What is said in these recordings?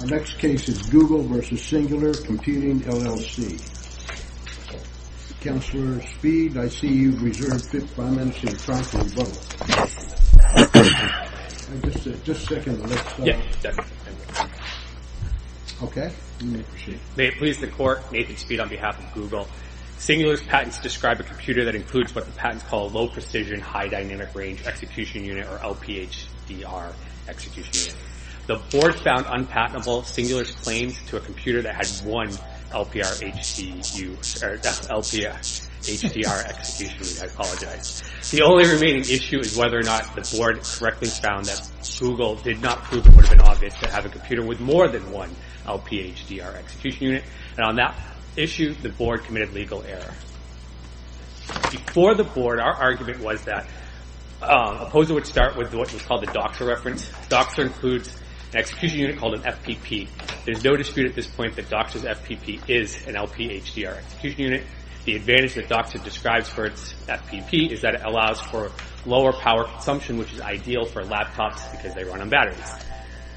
Our next case is Google v. Singular Computing LLC Counselor Speed, I see you've reserved 5 minutes in front of the bubble Just a second, the next file May it please the Court, Nathan Speed on behalf of Google Singular's patents describe a computer that includes what the patents call a low-precision, high-dynamic range execution unit or LPHDR execution unit The Board found unpatentable Singular's claims to a computer that had one LPHDR execution unit The only remaining issue is whether or not the Board correctly found that Google did not prove it would have been obvious to have a computer with more than one LPHDR execution unit On that issue, the Board committed legal error Before the Board, our argument was that OPPOSA would start with what we call the DOXA reference DOXA includes an execution unit called an FPP There's no dispute at this point that DOXA's FPP is an LPHDR execution unit The advantage that DOXA describes for its FPP is that it allows for lower power consumption, which is ideal for laptops because they run on batteries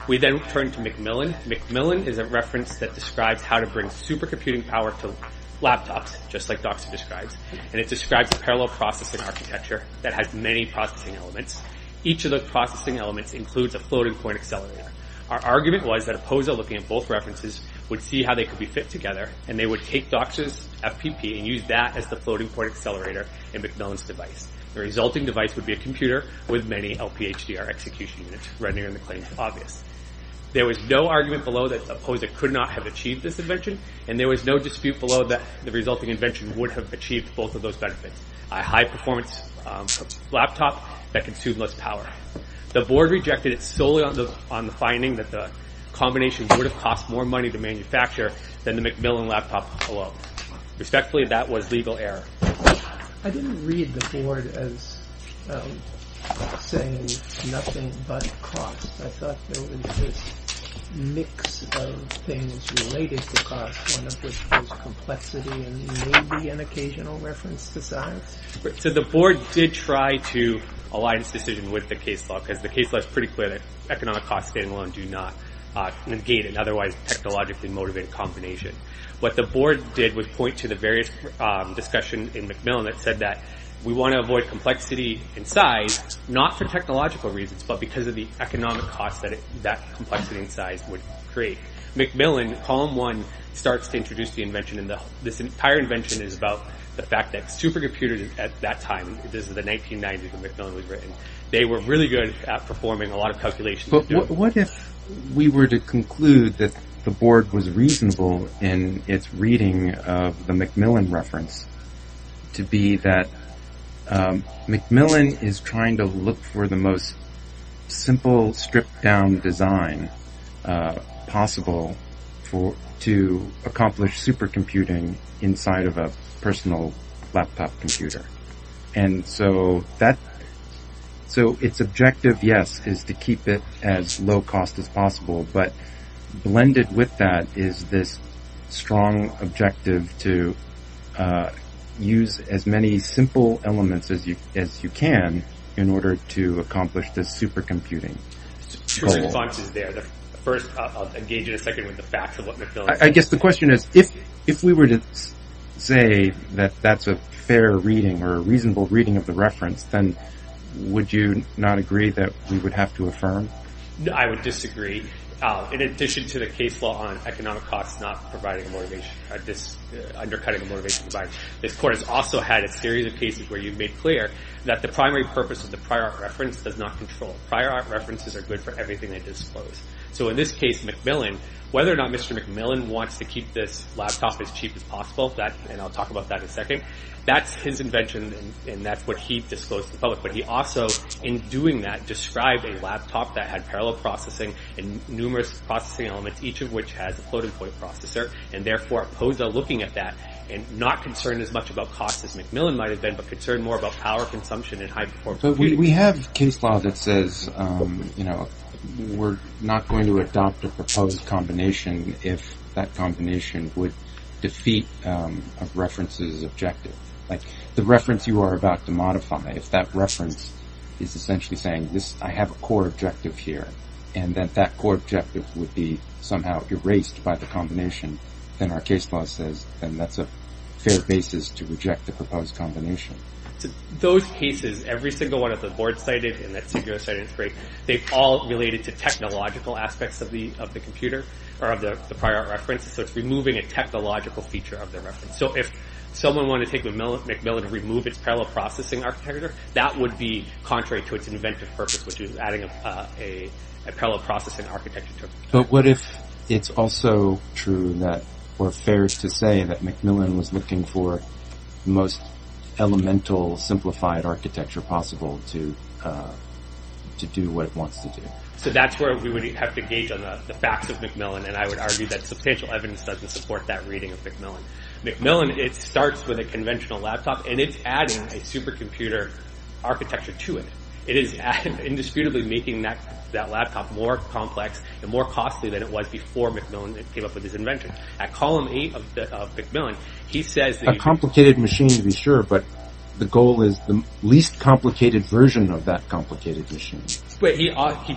We then turn to Macmillan. Macmillan is a reference that describes how to bring supercomputing power to laptops, just like DOXA describes And it describes a parallel processing architecture that has many processing elements Each of the processing elements includes a floating-point accelerator Our argument was that OPPOSA, looking at both references, would see how they could be fit together And they would take DOXA's FPP and use that as the floating-point accelerator in Macmillan's device The resulting device would be a computer with many LPHDR execution units, rendering the claims obvious There was no argument below that OPPOSA could not have achieved this invention And there was no dispute below that the resulting invention would have achieved both of those benefits A high-performance laptop that consumed less power The Board rejected it solely on the finding that the combination would have cost more money to manufacture than the Macmillan laptop alone Respectfully, that was legal error I didn't read the Board as saying nothing but cost I thought there was this mix of things related to cost One of which was complexity and maybe an occasional reference to science So the Board did try to align its decision with the case law Because the case law is pretty clear that economic costs alone do not negate an otherwise technologically motivated combination What the Board did was point to the various discussions in Macmillan that said that We want to avoid complexity in size, not for technological reasons, but because of the economic costs that complexity in size would create Macmillan, Column 1, starts to introduce the invention And this entire invention is about the fact that supercomputers at that time This is the 1990s when Macmillan was written They were really good at performing a lot of calculations But what if we were to conclude that the Board was reasonable in its reading of the Macmillan reference To be that Macmillan is trying to look for the most simple stripped-down design possible To accomplish supercomputing inside of a personal laptop computer So its objective, yes, is to keep it as low-cost as possible But blended with that is this strong objective to use as many simple elements as you can In order to accomplish this supercomputing goal I'll engage you in a second with the facts of what Macmillan is I guess the question is, if we were to say that that's a fair reading or a reasonable reading of the reference Then would you not agree that we would have to affirm? I would disagree In addition to the case law on economic costs not providing a motivation This court has also had a series of cases where you've made clear That the primary purpose of the prior art reference does not control Prior art references are good for everything they disclose So in this case, whether or not Mr. Macmillan wants to keep this laptop as cheap as possible And I'll talk about that in a second That's his invention and that's what he disclosed to the public But he also, in doing that, described a laptop that had parallel processing And numerous processing elements, each of which has a floating-point processor And therefore opposed to looking at that And not concerned as much about cost as Macmillan might have been But concerned more about power consumption and high-performance computing We have case law that says, you know, we're not going to adopt a proposed combination If that combination would defeat a reference's objective Like the reference you are about to modify If that reference is essentially saying, I have a core objective here And that that core objective would be somehow erased by the combination Then our case law says, then that's a fair basis to reject the proposed combination Those cases, every single one that the board cited And that SIGGRAPH cited in its break They've all related to technological aspects of the computer Or of the prior reference So it's removing a technological feature of the reference So if someone wanted to take the Macmillan and remove its parallel processing architecture That would be contrary to its inventive purpose Which is adding a parallel processing architecture But what if it's also true that Or fair to say that Macmillan was looking for The most elemental, simplified architecture possible To do what it wants to do So that's where we would have to gauge on the facts of Macmillan And I would argue that substantial evidence doesn't support that reading of Macmillan Macmillan, it starts with a conventional laptop And it's adding a supercomputer architecture to it It is indisputably making that laptop more complex And more costly than it was before Macmillan came up with this invention At column 8 of Macmillan, he says A complicated machine, to be sure But the goal is the least complicated version of that complicated machine But he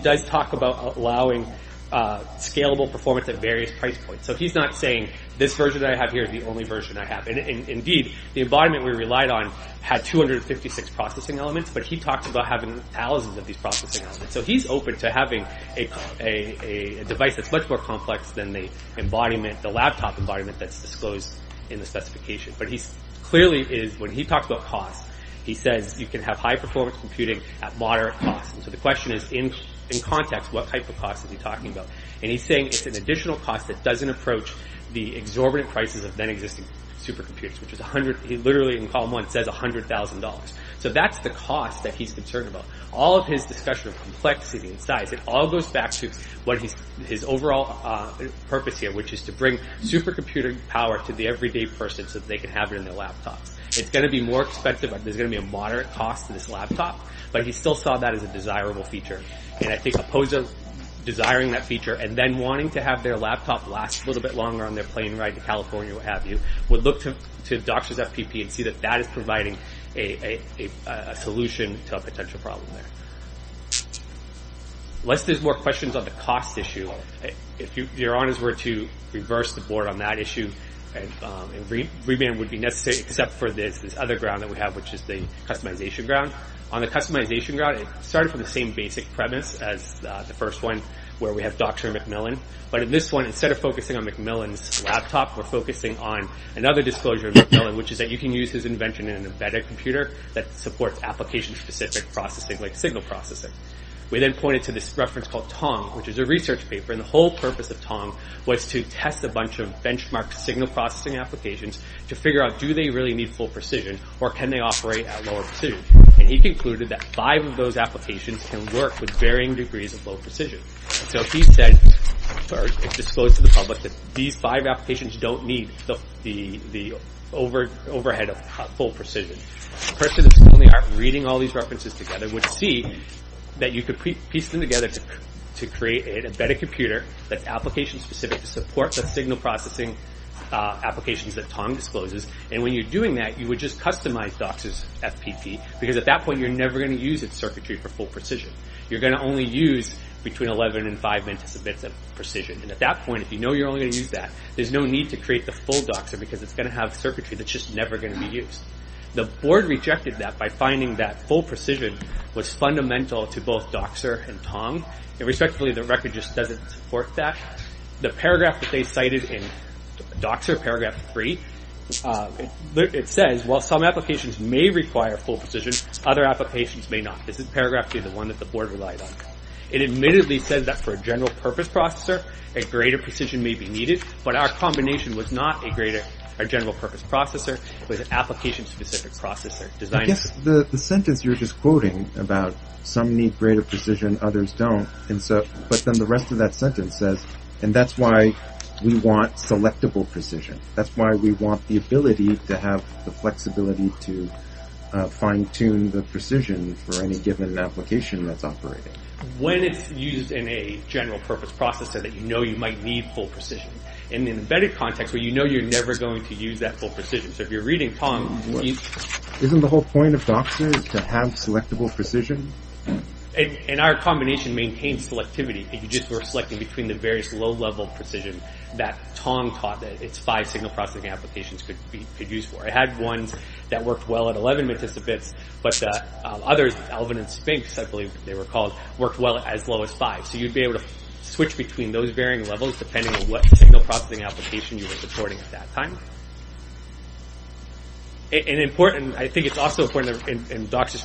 does talk about allowing Scalable performance at various price points So he's not saying this version I have here is the only version I have Indeed, the embodiment we relied on had 256 processing elements But he talked about having thousands of these processing elements So he's open to having a device that's much more complex Than the laptop embodiment that's disclosed in the specification But clearly, when he talks about cost He says you can have high-performance computing at moderate cost So the question is, in context, what type of cost is he talking about? And he's saying it's an additional cost that doesn't approach The exorbitant prices of then-existing supercomputers He literally, in column 1, says $100,000 So that's the cost that he's concerned about All of his discussion of complexity and size It all goes back to his overall purpose here Which is to bring supercomputing power to the everyday person So that they can have it in their laptops It's going to be more expensive, there's going to be a moderate cost to this laptop But he still saw that as a desirable feature And I think Opposa, desiring that feature And then wanting to have their laptop last a little bit longer On their plane ride to California, what have you Would look to Doctris FPP and see that that is providing A solution to a potential problem there Unless there's more questions on the cost issue If your honors were to reverse the board on that issue Reband would be necessary Except for this other ground that we have Which is the customization ground On the customization ground, it started from the same basic premise As the first one, where we have Doctris and Macmillan But in this one, instead of focusing on Macmillan's laptop We're focusing on another disclosure of Macmillan Which is that you can use his invention in an embedded computer That supports application specific processing like signal processing We then pointed to this reference called Tong Which is a research paper, and the whole purpose of Tong Was to test a bunch of benchmark signal processing applications To figure out do they really need full precision Or can they operate at lower precision And he concluded that five of those applications can work With varying degrees of low precision So he said, or disclosed to the public That these five applications don't need the overhead of full precision A person that's only reading all these references together Would see that you could piece them together To create an embedded computer That's application specific to support the signal processing Applications that Tong discloses And when you're doing that, you would just customize Doctris FPP Because at that point, you're never going to use its circuitry for full precision You're going to only use between 11 and 5 minutes of precision And at that point, if you know you're only going to use that There's no need to create the full Doctris Because it's going to have circuitry that's just never going to be used The board rejected that by finding that full precision Was fundamental to both Doctris and Tong Irrespectively, the record just doesn't support that The paragraph that they cited in Doctris, paragraph 3 It says, while some applications may require full precision Other applications may not This is paragraph 3, the one that the board relied on It admittedly says that for a general purpose processor A greater precision may be needed But our combination was not a general purpose processor It was an application specific processor I guess the sentence you're just quoting about Some need greater precision, others don't But then the rest of that sentence says And that's why we want selectable precision That's why we want the ability to have the flexibility To fine tune the precision For any given application that's operating When it's used in a general purpose processor That you know you might need full precision In an embedded context, you know you're never going to use that full precision So if you're reading Tong Isn't the whole point of Doctris to have selectable precision? And our combination maintains selectivity If you just were selecting between the various low level precision That Tong taught that its five signal processing applications Could use for. It had ones that worked well At eleven anticipates, but the others Elvin and Spinks, I believe they were called, worked well at as low as five So you'd be able to switch between those varying levels Depending on what signal processing application you were supporting at that time I think it's also important in Doctris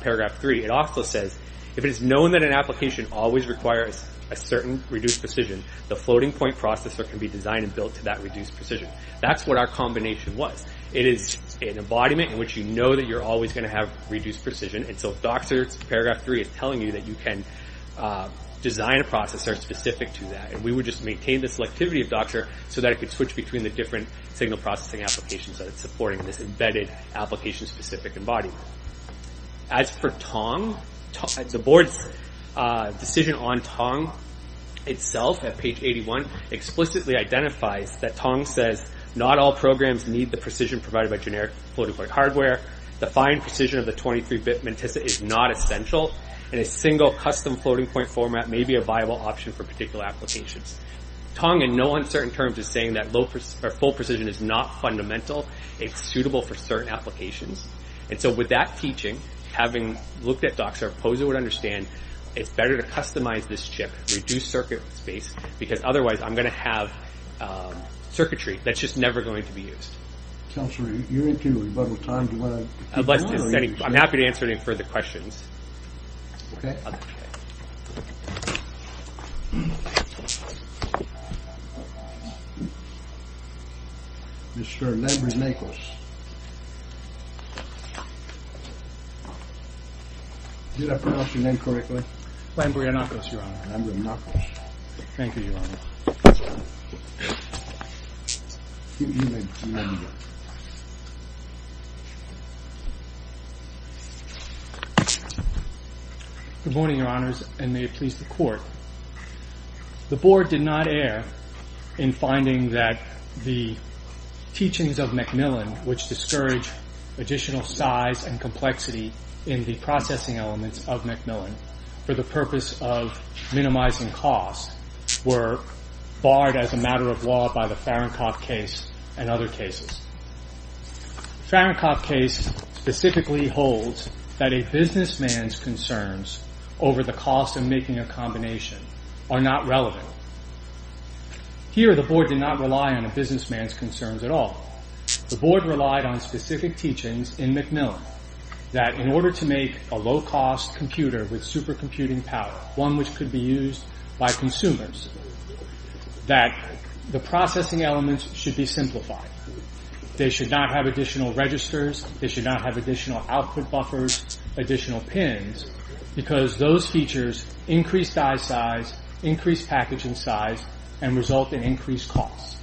Paragraph 3 It also says If it is known that an application always requires a certain reduced precision The floating point processor can be designed and built to that reduced precision That's what our combination was It is an embodiment in which you know that you're always going to have reduced precision And so Doctris Paragraph 3 is telling you that you can Design a processor specific to that And we would just maintain the selectivity of Doctris So that it could switch between the different signal processing applications That it's supporting in this embedded application specific embodiment As for Tong The board's decision on Tong Itself at page 81 explicitly identifies That Tong says not all programs need the precision Provided by generic floating point hardware The fine precision of the 23-bit Matissa is not essential And a single custom floating point format may be a viable option For particular applications Tong in no uncertain terms is saying that full precision is not fundamental It's suitable for certain applications And so with that teaching, having looked at Doctris Paragraph 3 It's better to customize this chip Reduce circuit space Because otherwise I'm going to have circuitry That's just never going to be used I'm happy to answer any further questions Mr. Lambrinacos Did I pronounce your name correctly? Lambrinacos, your honor Lambrinacos Thank you, your honor Good morning, your honors The court has decided That we will not be using the The board did not err In finding that the teachings of Macmillan Which discourage additional size and complexity In the processing elements of Macmillan For the purpose of minimizing cost Were barred as a matter of law By the Farenkopf case and other cases The Farenkopf case specifically holds That a businessman's concerns Over the cost of making a combination Are not relevant Here the board did not rely on a businessman's concerns at all The board relied on specific teachings in Macmillan That in order to make a low-cost computer With supercomputing power One which could be used by consumers That the processing elements should be simplified They should not have additional registers They should not have additional output buffers Additional pins Because those features increase die size Increase packaging size and result in increased cost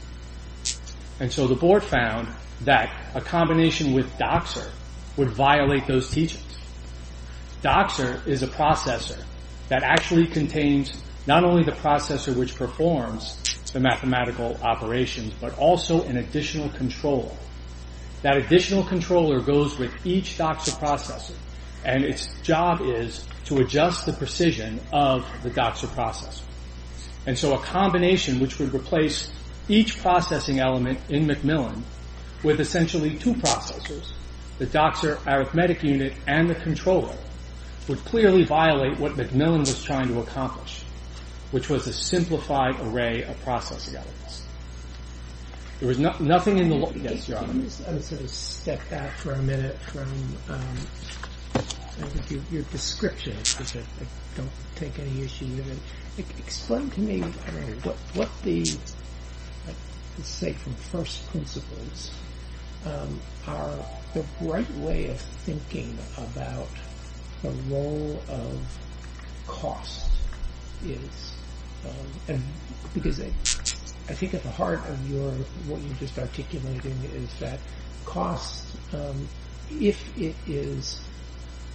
And so the board found that a combination with Doxer Would violate those teachings Doxer is a processor That actually contains not only the processor Which performs the mathematical operations But also an additional controller That additional controller goes with each Doxer processor And its job is to adjust the precision Of the Doxer processor And so a combination which would replace Each processing element in Macmillan With essentially two processors The Doxer arithmetic unit and the controller Would clearly violate what Macmillan was trying to accomplish Which was a simplified array of processing elements There was nothing in the Let me sort of step back for a minute From your description Because I don't take any issue Explain to me What the safe and first principles Are the right way of thinking About the role of cost Because I think at the heart Of what you're just articulating Is that cost If it is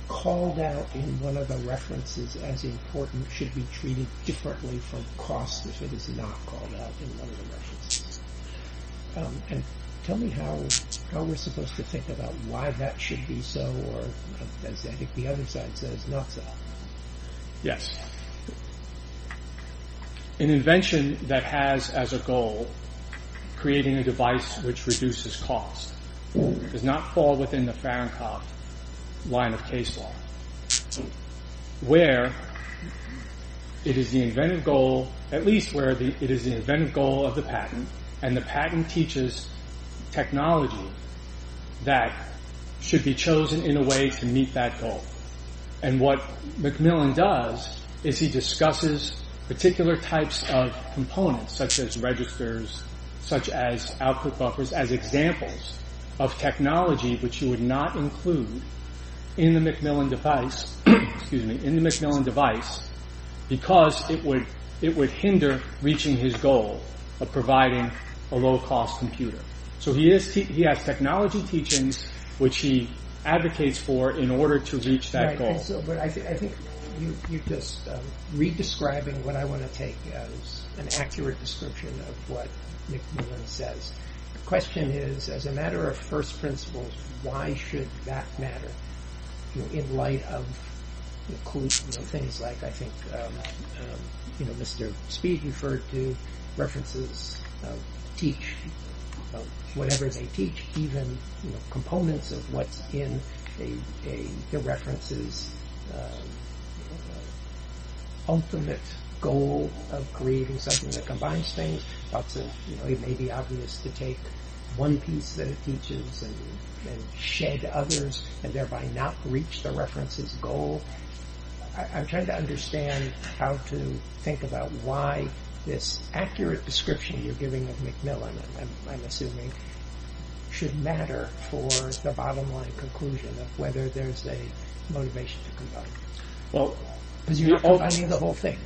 called out In one of the references as important Should be treated differently from cost If it is not called out in one of the references Tell me how we're supposed to think about Why that should be so I think the other side says not so Yes An invention that has as a goal Creating a device which reduces cost Does not fall within the Farenkopf line of case law Where It is the inventive goal At least where it is the inventive goal of the patent And the patent teaches technology That should be chosen in a way To meet that goal And what Macmillan does Is he discusses particular types of components Such as registers, such as output buffers As examples of technology Which you would not include In the Macmillan device Because it would hinder reaching his goal Of providing a low cost computer So he has technology teachings Which he advocates for in order to reach that goal I think you're just re-describing What I want to take as an accurate description Of what Macmillan says The question is as a matter of first principles Why should that matter In light of things like I think Mr. Speed referred to References teach Whatever they teach Even components of what's in The references Ultimate goal of creating something That combines things It may be obvious to take one piece that it teaches And shed others And thereby not reach the reference's goal I'm trying to understand how to think about Why this accurate description You're giving of Macmillan Should matter for the bottom line conclusion Of whether there's a motivation to combine Because you're not combining the whole thing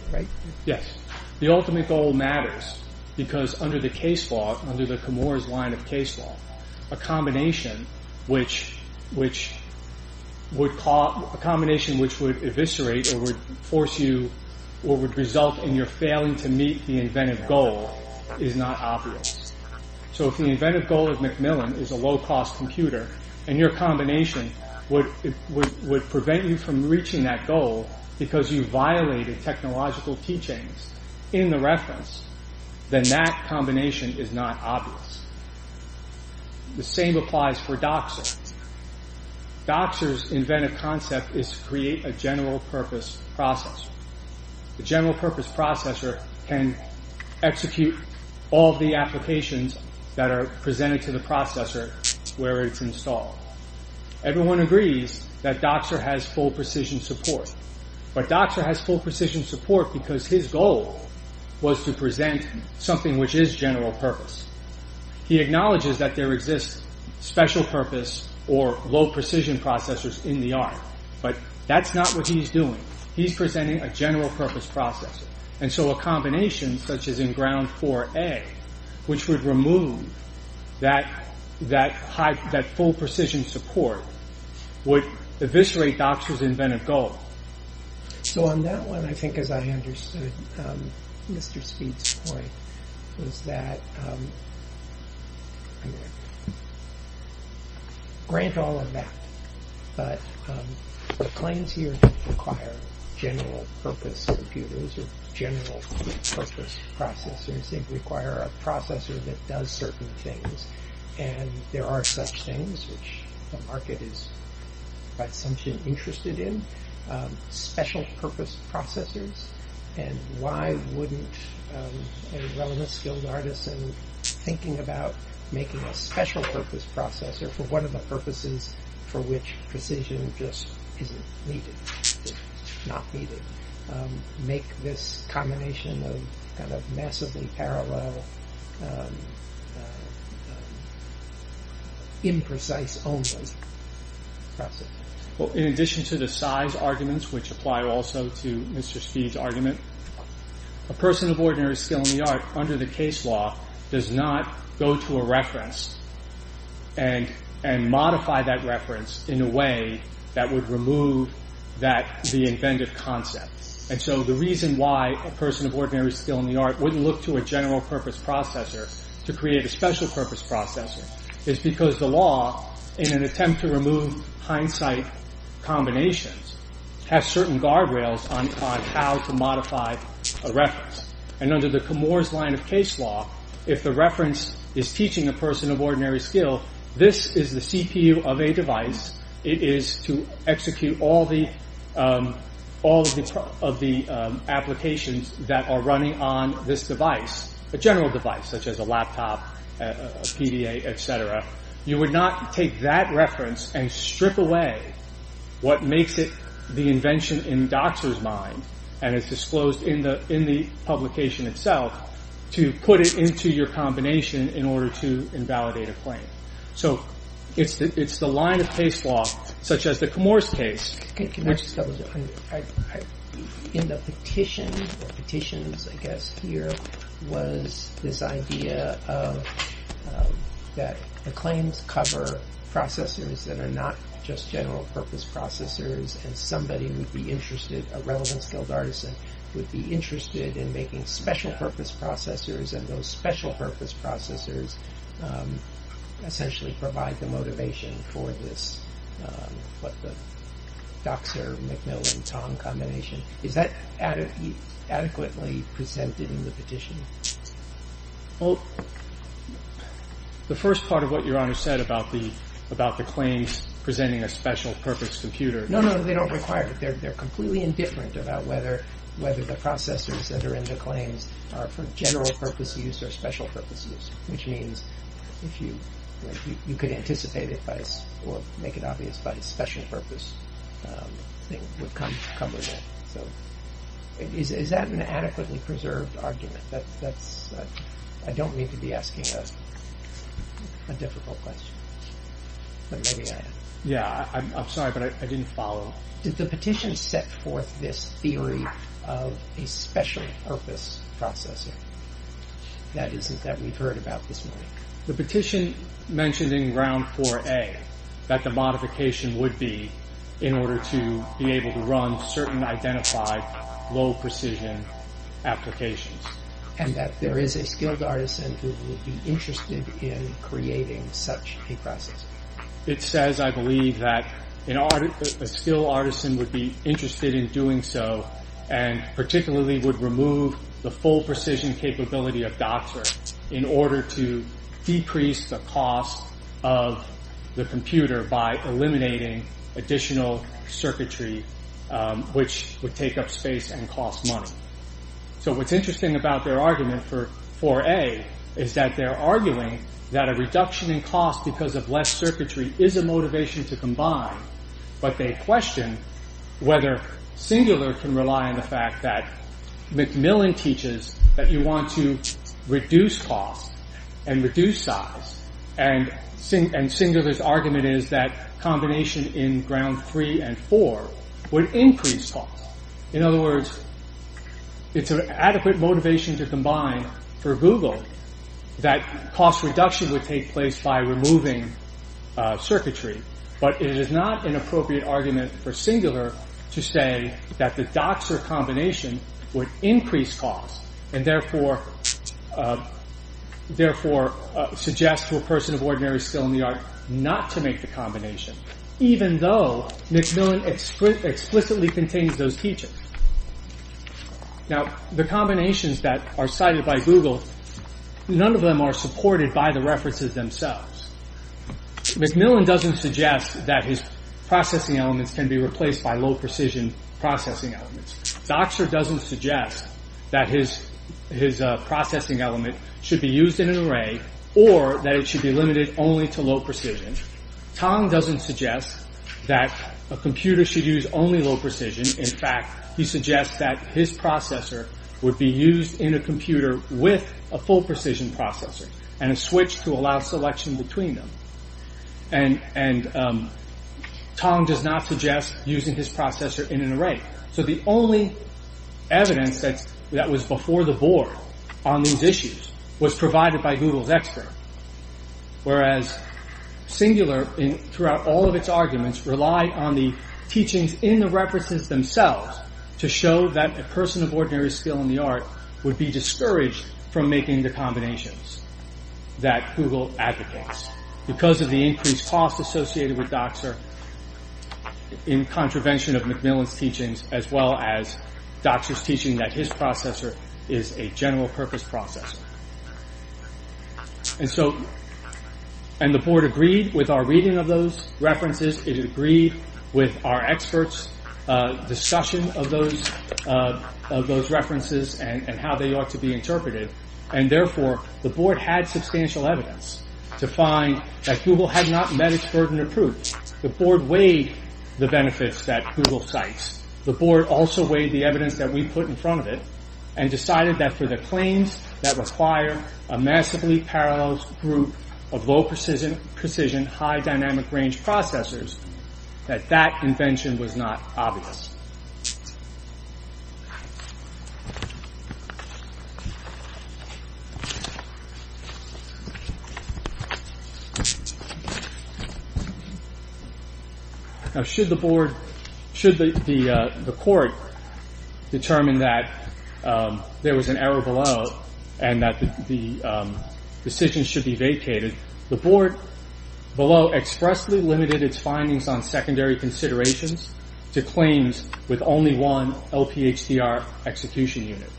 Yes, the ultimate goal matters Because under the case law A combination Which would eviscerate Or would force you Or would result in your failing to meet The inventive goal is not obvious So if the inventive goal of Macmillan Is a low cost computer And your combination would prevent you from reaching that goal Because you violated technological teachings In the reference Then that combination is not obvious The same applies for Doxer Doxer's inventive concept is to create a general purpose processor The general purpose processor Can execute all the applications That are presented to the processor Where it's installed Everyone agrees that Doxer has full precision support But Doxer has full precision support Because his goal was to present Something which is general purpose He acknowledges that there exists special purpose Or low precision processors in the art But that's not what he's doing He's presenting a general purpose processor And so a combination such as in ground 4A Which would remove that full precision support Would eviscerate Doxer's inventive goal So on that one I think as I understood Mr. Speed's point Was that Grant all of that But the claims here Require general purpose computers Or general purpose processors They require a processor that does certain things And there are such things Which the market is by assumption interested in Special purpose processors And why wouldn't a well-skilled artist Thinking about making a special purpose processor For one of the purposes For which precision just isn't needed Make this combination Of massively parallel Imprecise only In addition to the size arguments Which apply also to Mr. Speed's argument A person of ordinary skill in the art Under the case law Does not go to a reference And modify that reference in a way That would remove that The inventive concept And so the reason why A person of ordinary skill in the art Wouldn't look to a general purpose processor To create a special purpose processor Is because the law in an attempt to remove Hindsight combinations Has certain guardrails on how to modify a reference And under the Camorra's line of case law If the reference is teaching a person of ordinary skill This is the CPU of a device It is to execute all of the Applications that are running On this device A general device such as a laptop, a PDA, etc You would not take that reference And strip away what makes it The invention in the doctor's mind And is disclosed in the publication itself To put it into your combination In order to invalidate a claim So it's the line of case law Such as the Camorra's case In the petition Was this idea That the claims cover processors That are not just general purpose processors And somebody would be interested A relevant skilled artisan would be interested In making special purpose processors And those special purpose processors Essentially provide the motivation for this What the Doxer, Macmillan, Tong combination Is that adequately presented in the petition? Well The first part of what your honor said About the claims presenting a special purpose computer No, no, they don't require it They're completely indifferent about whether the processors That are in the claims are for general purpose use Or special purpose use Which means you could anticipate it Or make it obvious by special purpose Is that an adequately preserved argument? I don't mean to be asking A difficult question Yeah, I'm sorry but I didn't follow Did the petition set forth this theory Of a special purpose processor That we've heard about this morning The petition mentioned in round 4a That the modification would be In order to be able to run certain identified Low precision applications And that there is a skilled artisan Who would be interested in creating such a process It says I believe that A skilled artisan would be interested in doing so And particularly would remove The full precision capability of Doxer In order to decrease the cost Of the computer by eliminating Additional circuitry Which would take up space and cost money So what's interesting about their argument for 4a Is that they're arguing that a reduction in cost Because of less circuitry is a motivation to combine But they question whether Singular can rely on the fact that Macmillan teaches that you want to reduce cost And reduce size And Singular's argument is that Combination in round 3 and 4 would increase cost In other words It's an adequate motivation to combine for Google That cost reduction would take place by removing Circuitry But it is not an appropriate argument for Singular To say that the Doxer combination would increase cost And therefore Suggest to a person of ordinary skill in the art Not to make the combination Even though Macmillan explicitly contains those features Now the combinations that are cited by Google None of them are supported by the references themselves Macmillan doesn't suggest that his Processing elements can be replaced by low precision Processing elements Doxer doesn't suggest that his processing element Should be used in an array Or that it should be limited only to low precision Tong doesn't suggest that A computer should use only low precision In fact, he suggests that his processor would be used In a computer with a full precision processor And a switch to allow selection between them And Tong does not suggest Using his processor in an array So the only evidence that was before the board On these issues was provided by Google's expert Whereas Singular Throughout all of its arguments relied on the Teachings in the references themselves To show that a person of ordinary skill in the art Would be discouraged from making the combinations That Google advocates Because of the increased cost associated with Doxer In contravention of Macmillan's teachings As well as Doxer's teaching that his processor Is a general purpose processor And so And the board agreed with our reading of those references It agreed with our experts' discussion Of those references And how they ought to be interpreted And therefore the board had substantial evidence To find that Google had not met its burden of proof The board weighed the benefits that Google cites The board also weighed the evidence that we put in front of it And decided that for the claims That require a massively parallel group Of low-precision, high-dynamic range processors That that invention was not obvious Now should the board Should the court determine that There was an error below And that the decision should be vacated The board below expressly limited its findings On secondary considerations To claims with only one LPHDR execution unit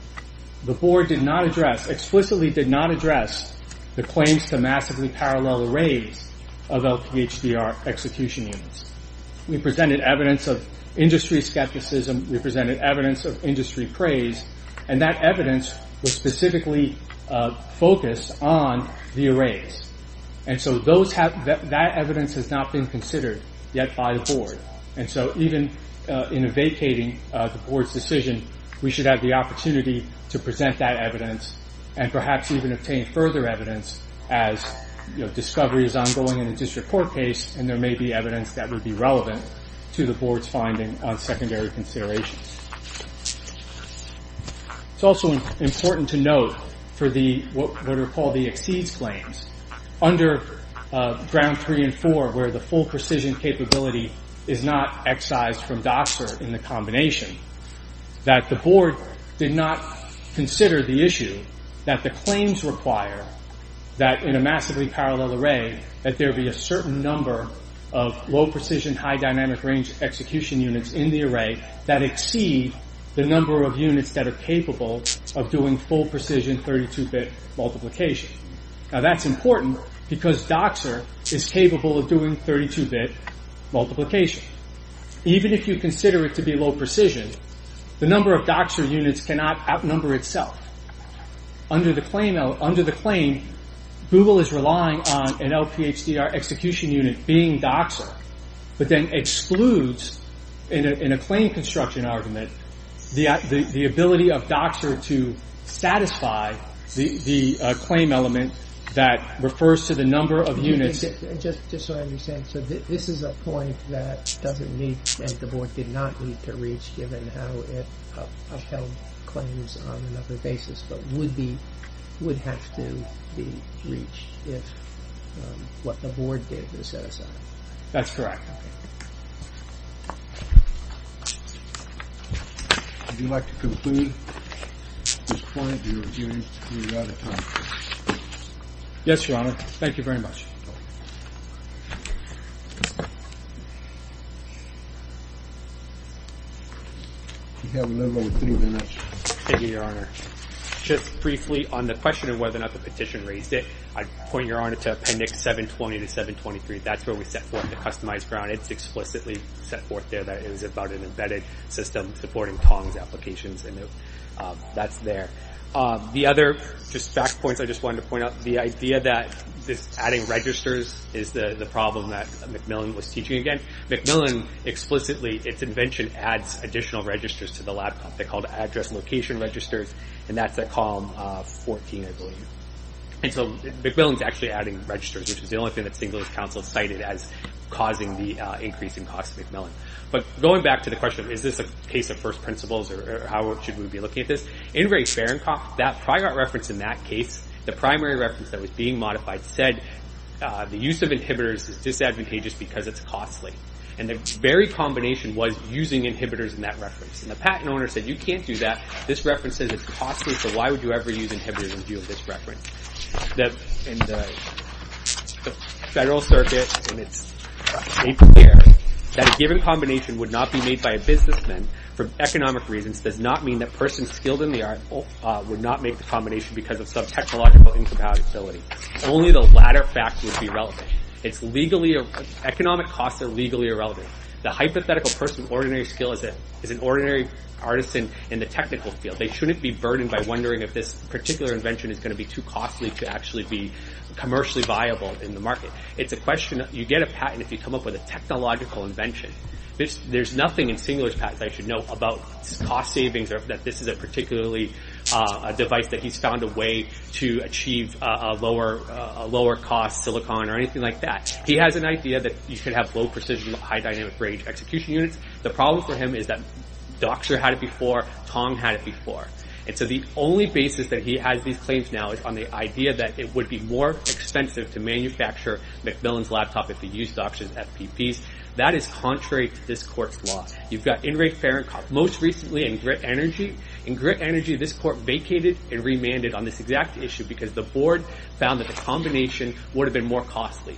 The board did not address Explicitly did not address The claims to massively parallel arrays Of LPHDR execution units We presented evidence of industry skepticism We presented evidence of industry praise And that evidence was specifically Focused on the arrays And so that evidence has not been considered Yet by the board And so even in vacating the board's decision We should have the opportunity to present that evidence And perhaps even obtain further evidence As discovery is ongoing in a district court case And there may be evidence that would be relevant To the board's finding on secondary considerations It's also important to note For what are called the exceeds claims Under ground three and four Where the full precision capability is not excised From Doxer in the combination That the board did not consider the issue That the claims require That in a massively parallel array That there be a certain number of low precision High dynamic range execution units in the array That exceed the number of units that are capable Of doing full precision 32-bit multiplication Now that's important because Doxer is capable Of doing 32-bit multiplication Even if you consider it to be low precision The number of Doxer units cannot outnumber itself Under the claim Google is relying on an LPHDR execution unit Being Doxer but then excludes In a claim construction argument The ability of Doxer to satisfy The claim element that refers To the number of units So this is a point that doesn't need That the board did not need to reach Given how it upheld claims on another basis But would have to be reached If what the board did was set aside That's correct Would you like to conclude At this point do you have any other comments Yes your honor thank you very much You have a little over three minutes Thank you your honor Just briefly on the question of whether or not the petition raised it I point your honor to appendix 720 to 723 That's where we set forth the customized ground It's about an embedded system Supporting Tong's applications The other fact points The idea that adding registers Is the problem that Macmillan was teaching Macmillan explicitly Adds additional registers to the laptop Address location registers And that's at column 14 So Macmillan is actually adding registers Which is the only thing that St. Louis council cited As causing the increase in cost to Macmillan But going back to the question Is this a case of first principles That prior reference in that case The primary reference that was being modified Said the use of inhibitors is disadvantageous Because it's costly And the very combination was using inhibitors In that reference And the patent owner said you can't do that This reference says it's costly So why would you ever use inhibitors In view of this reference The federal circuit Made clear that a given combination Would not be made by a businessman For economic reasons Does not mean that persons skilled in the art Would not make the combination Only the latter fact would be relevant Economic costs are legally irrelevant The hypothetical person Is an ordinary artisan in the technical field They shouldn't be burdened by wondering If this invention is going to be too costly To be commercially viable in the market It's a question You get a patent if you come up with a technological invention There's nothing in Singler's patent This is a particularly device That he's found a way to achieve A lower cost silicon or anything like that He has an idea that you can have low precision High dynamic range execution units The problem for him is that Docter had it before Tong had it before The only basis that he has these claims now Is on the idea that it would be more expensive To manufacture Macmillan's laptop That is contrary to this court's law Most recently in grit energy This court vacated and remanded On this exact issue Because the board found that the combination Would have been more costly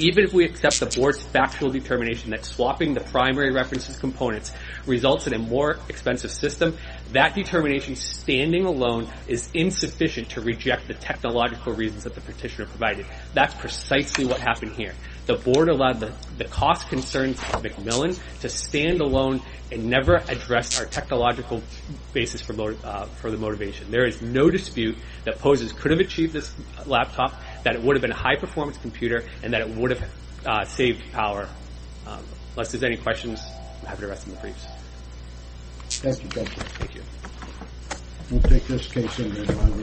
Even if we accept the board's factual determination That swapping the primary reference components Results in a more expensive system That determination standing alone Is insufficient to reject the technological reasons That the petitioner provided That's precisely what happened here The board allowed the cost concerns of Macmillan To stand alone and never address Our technological basis for the motivation There is no dispute that Poses could have achieved this laptop That it would have been a high performance computer And that it would have saved power Unless there's any questions I'm happy to rest on the briefs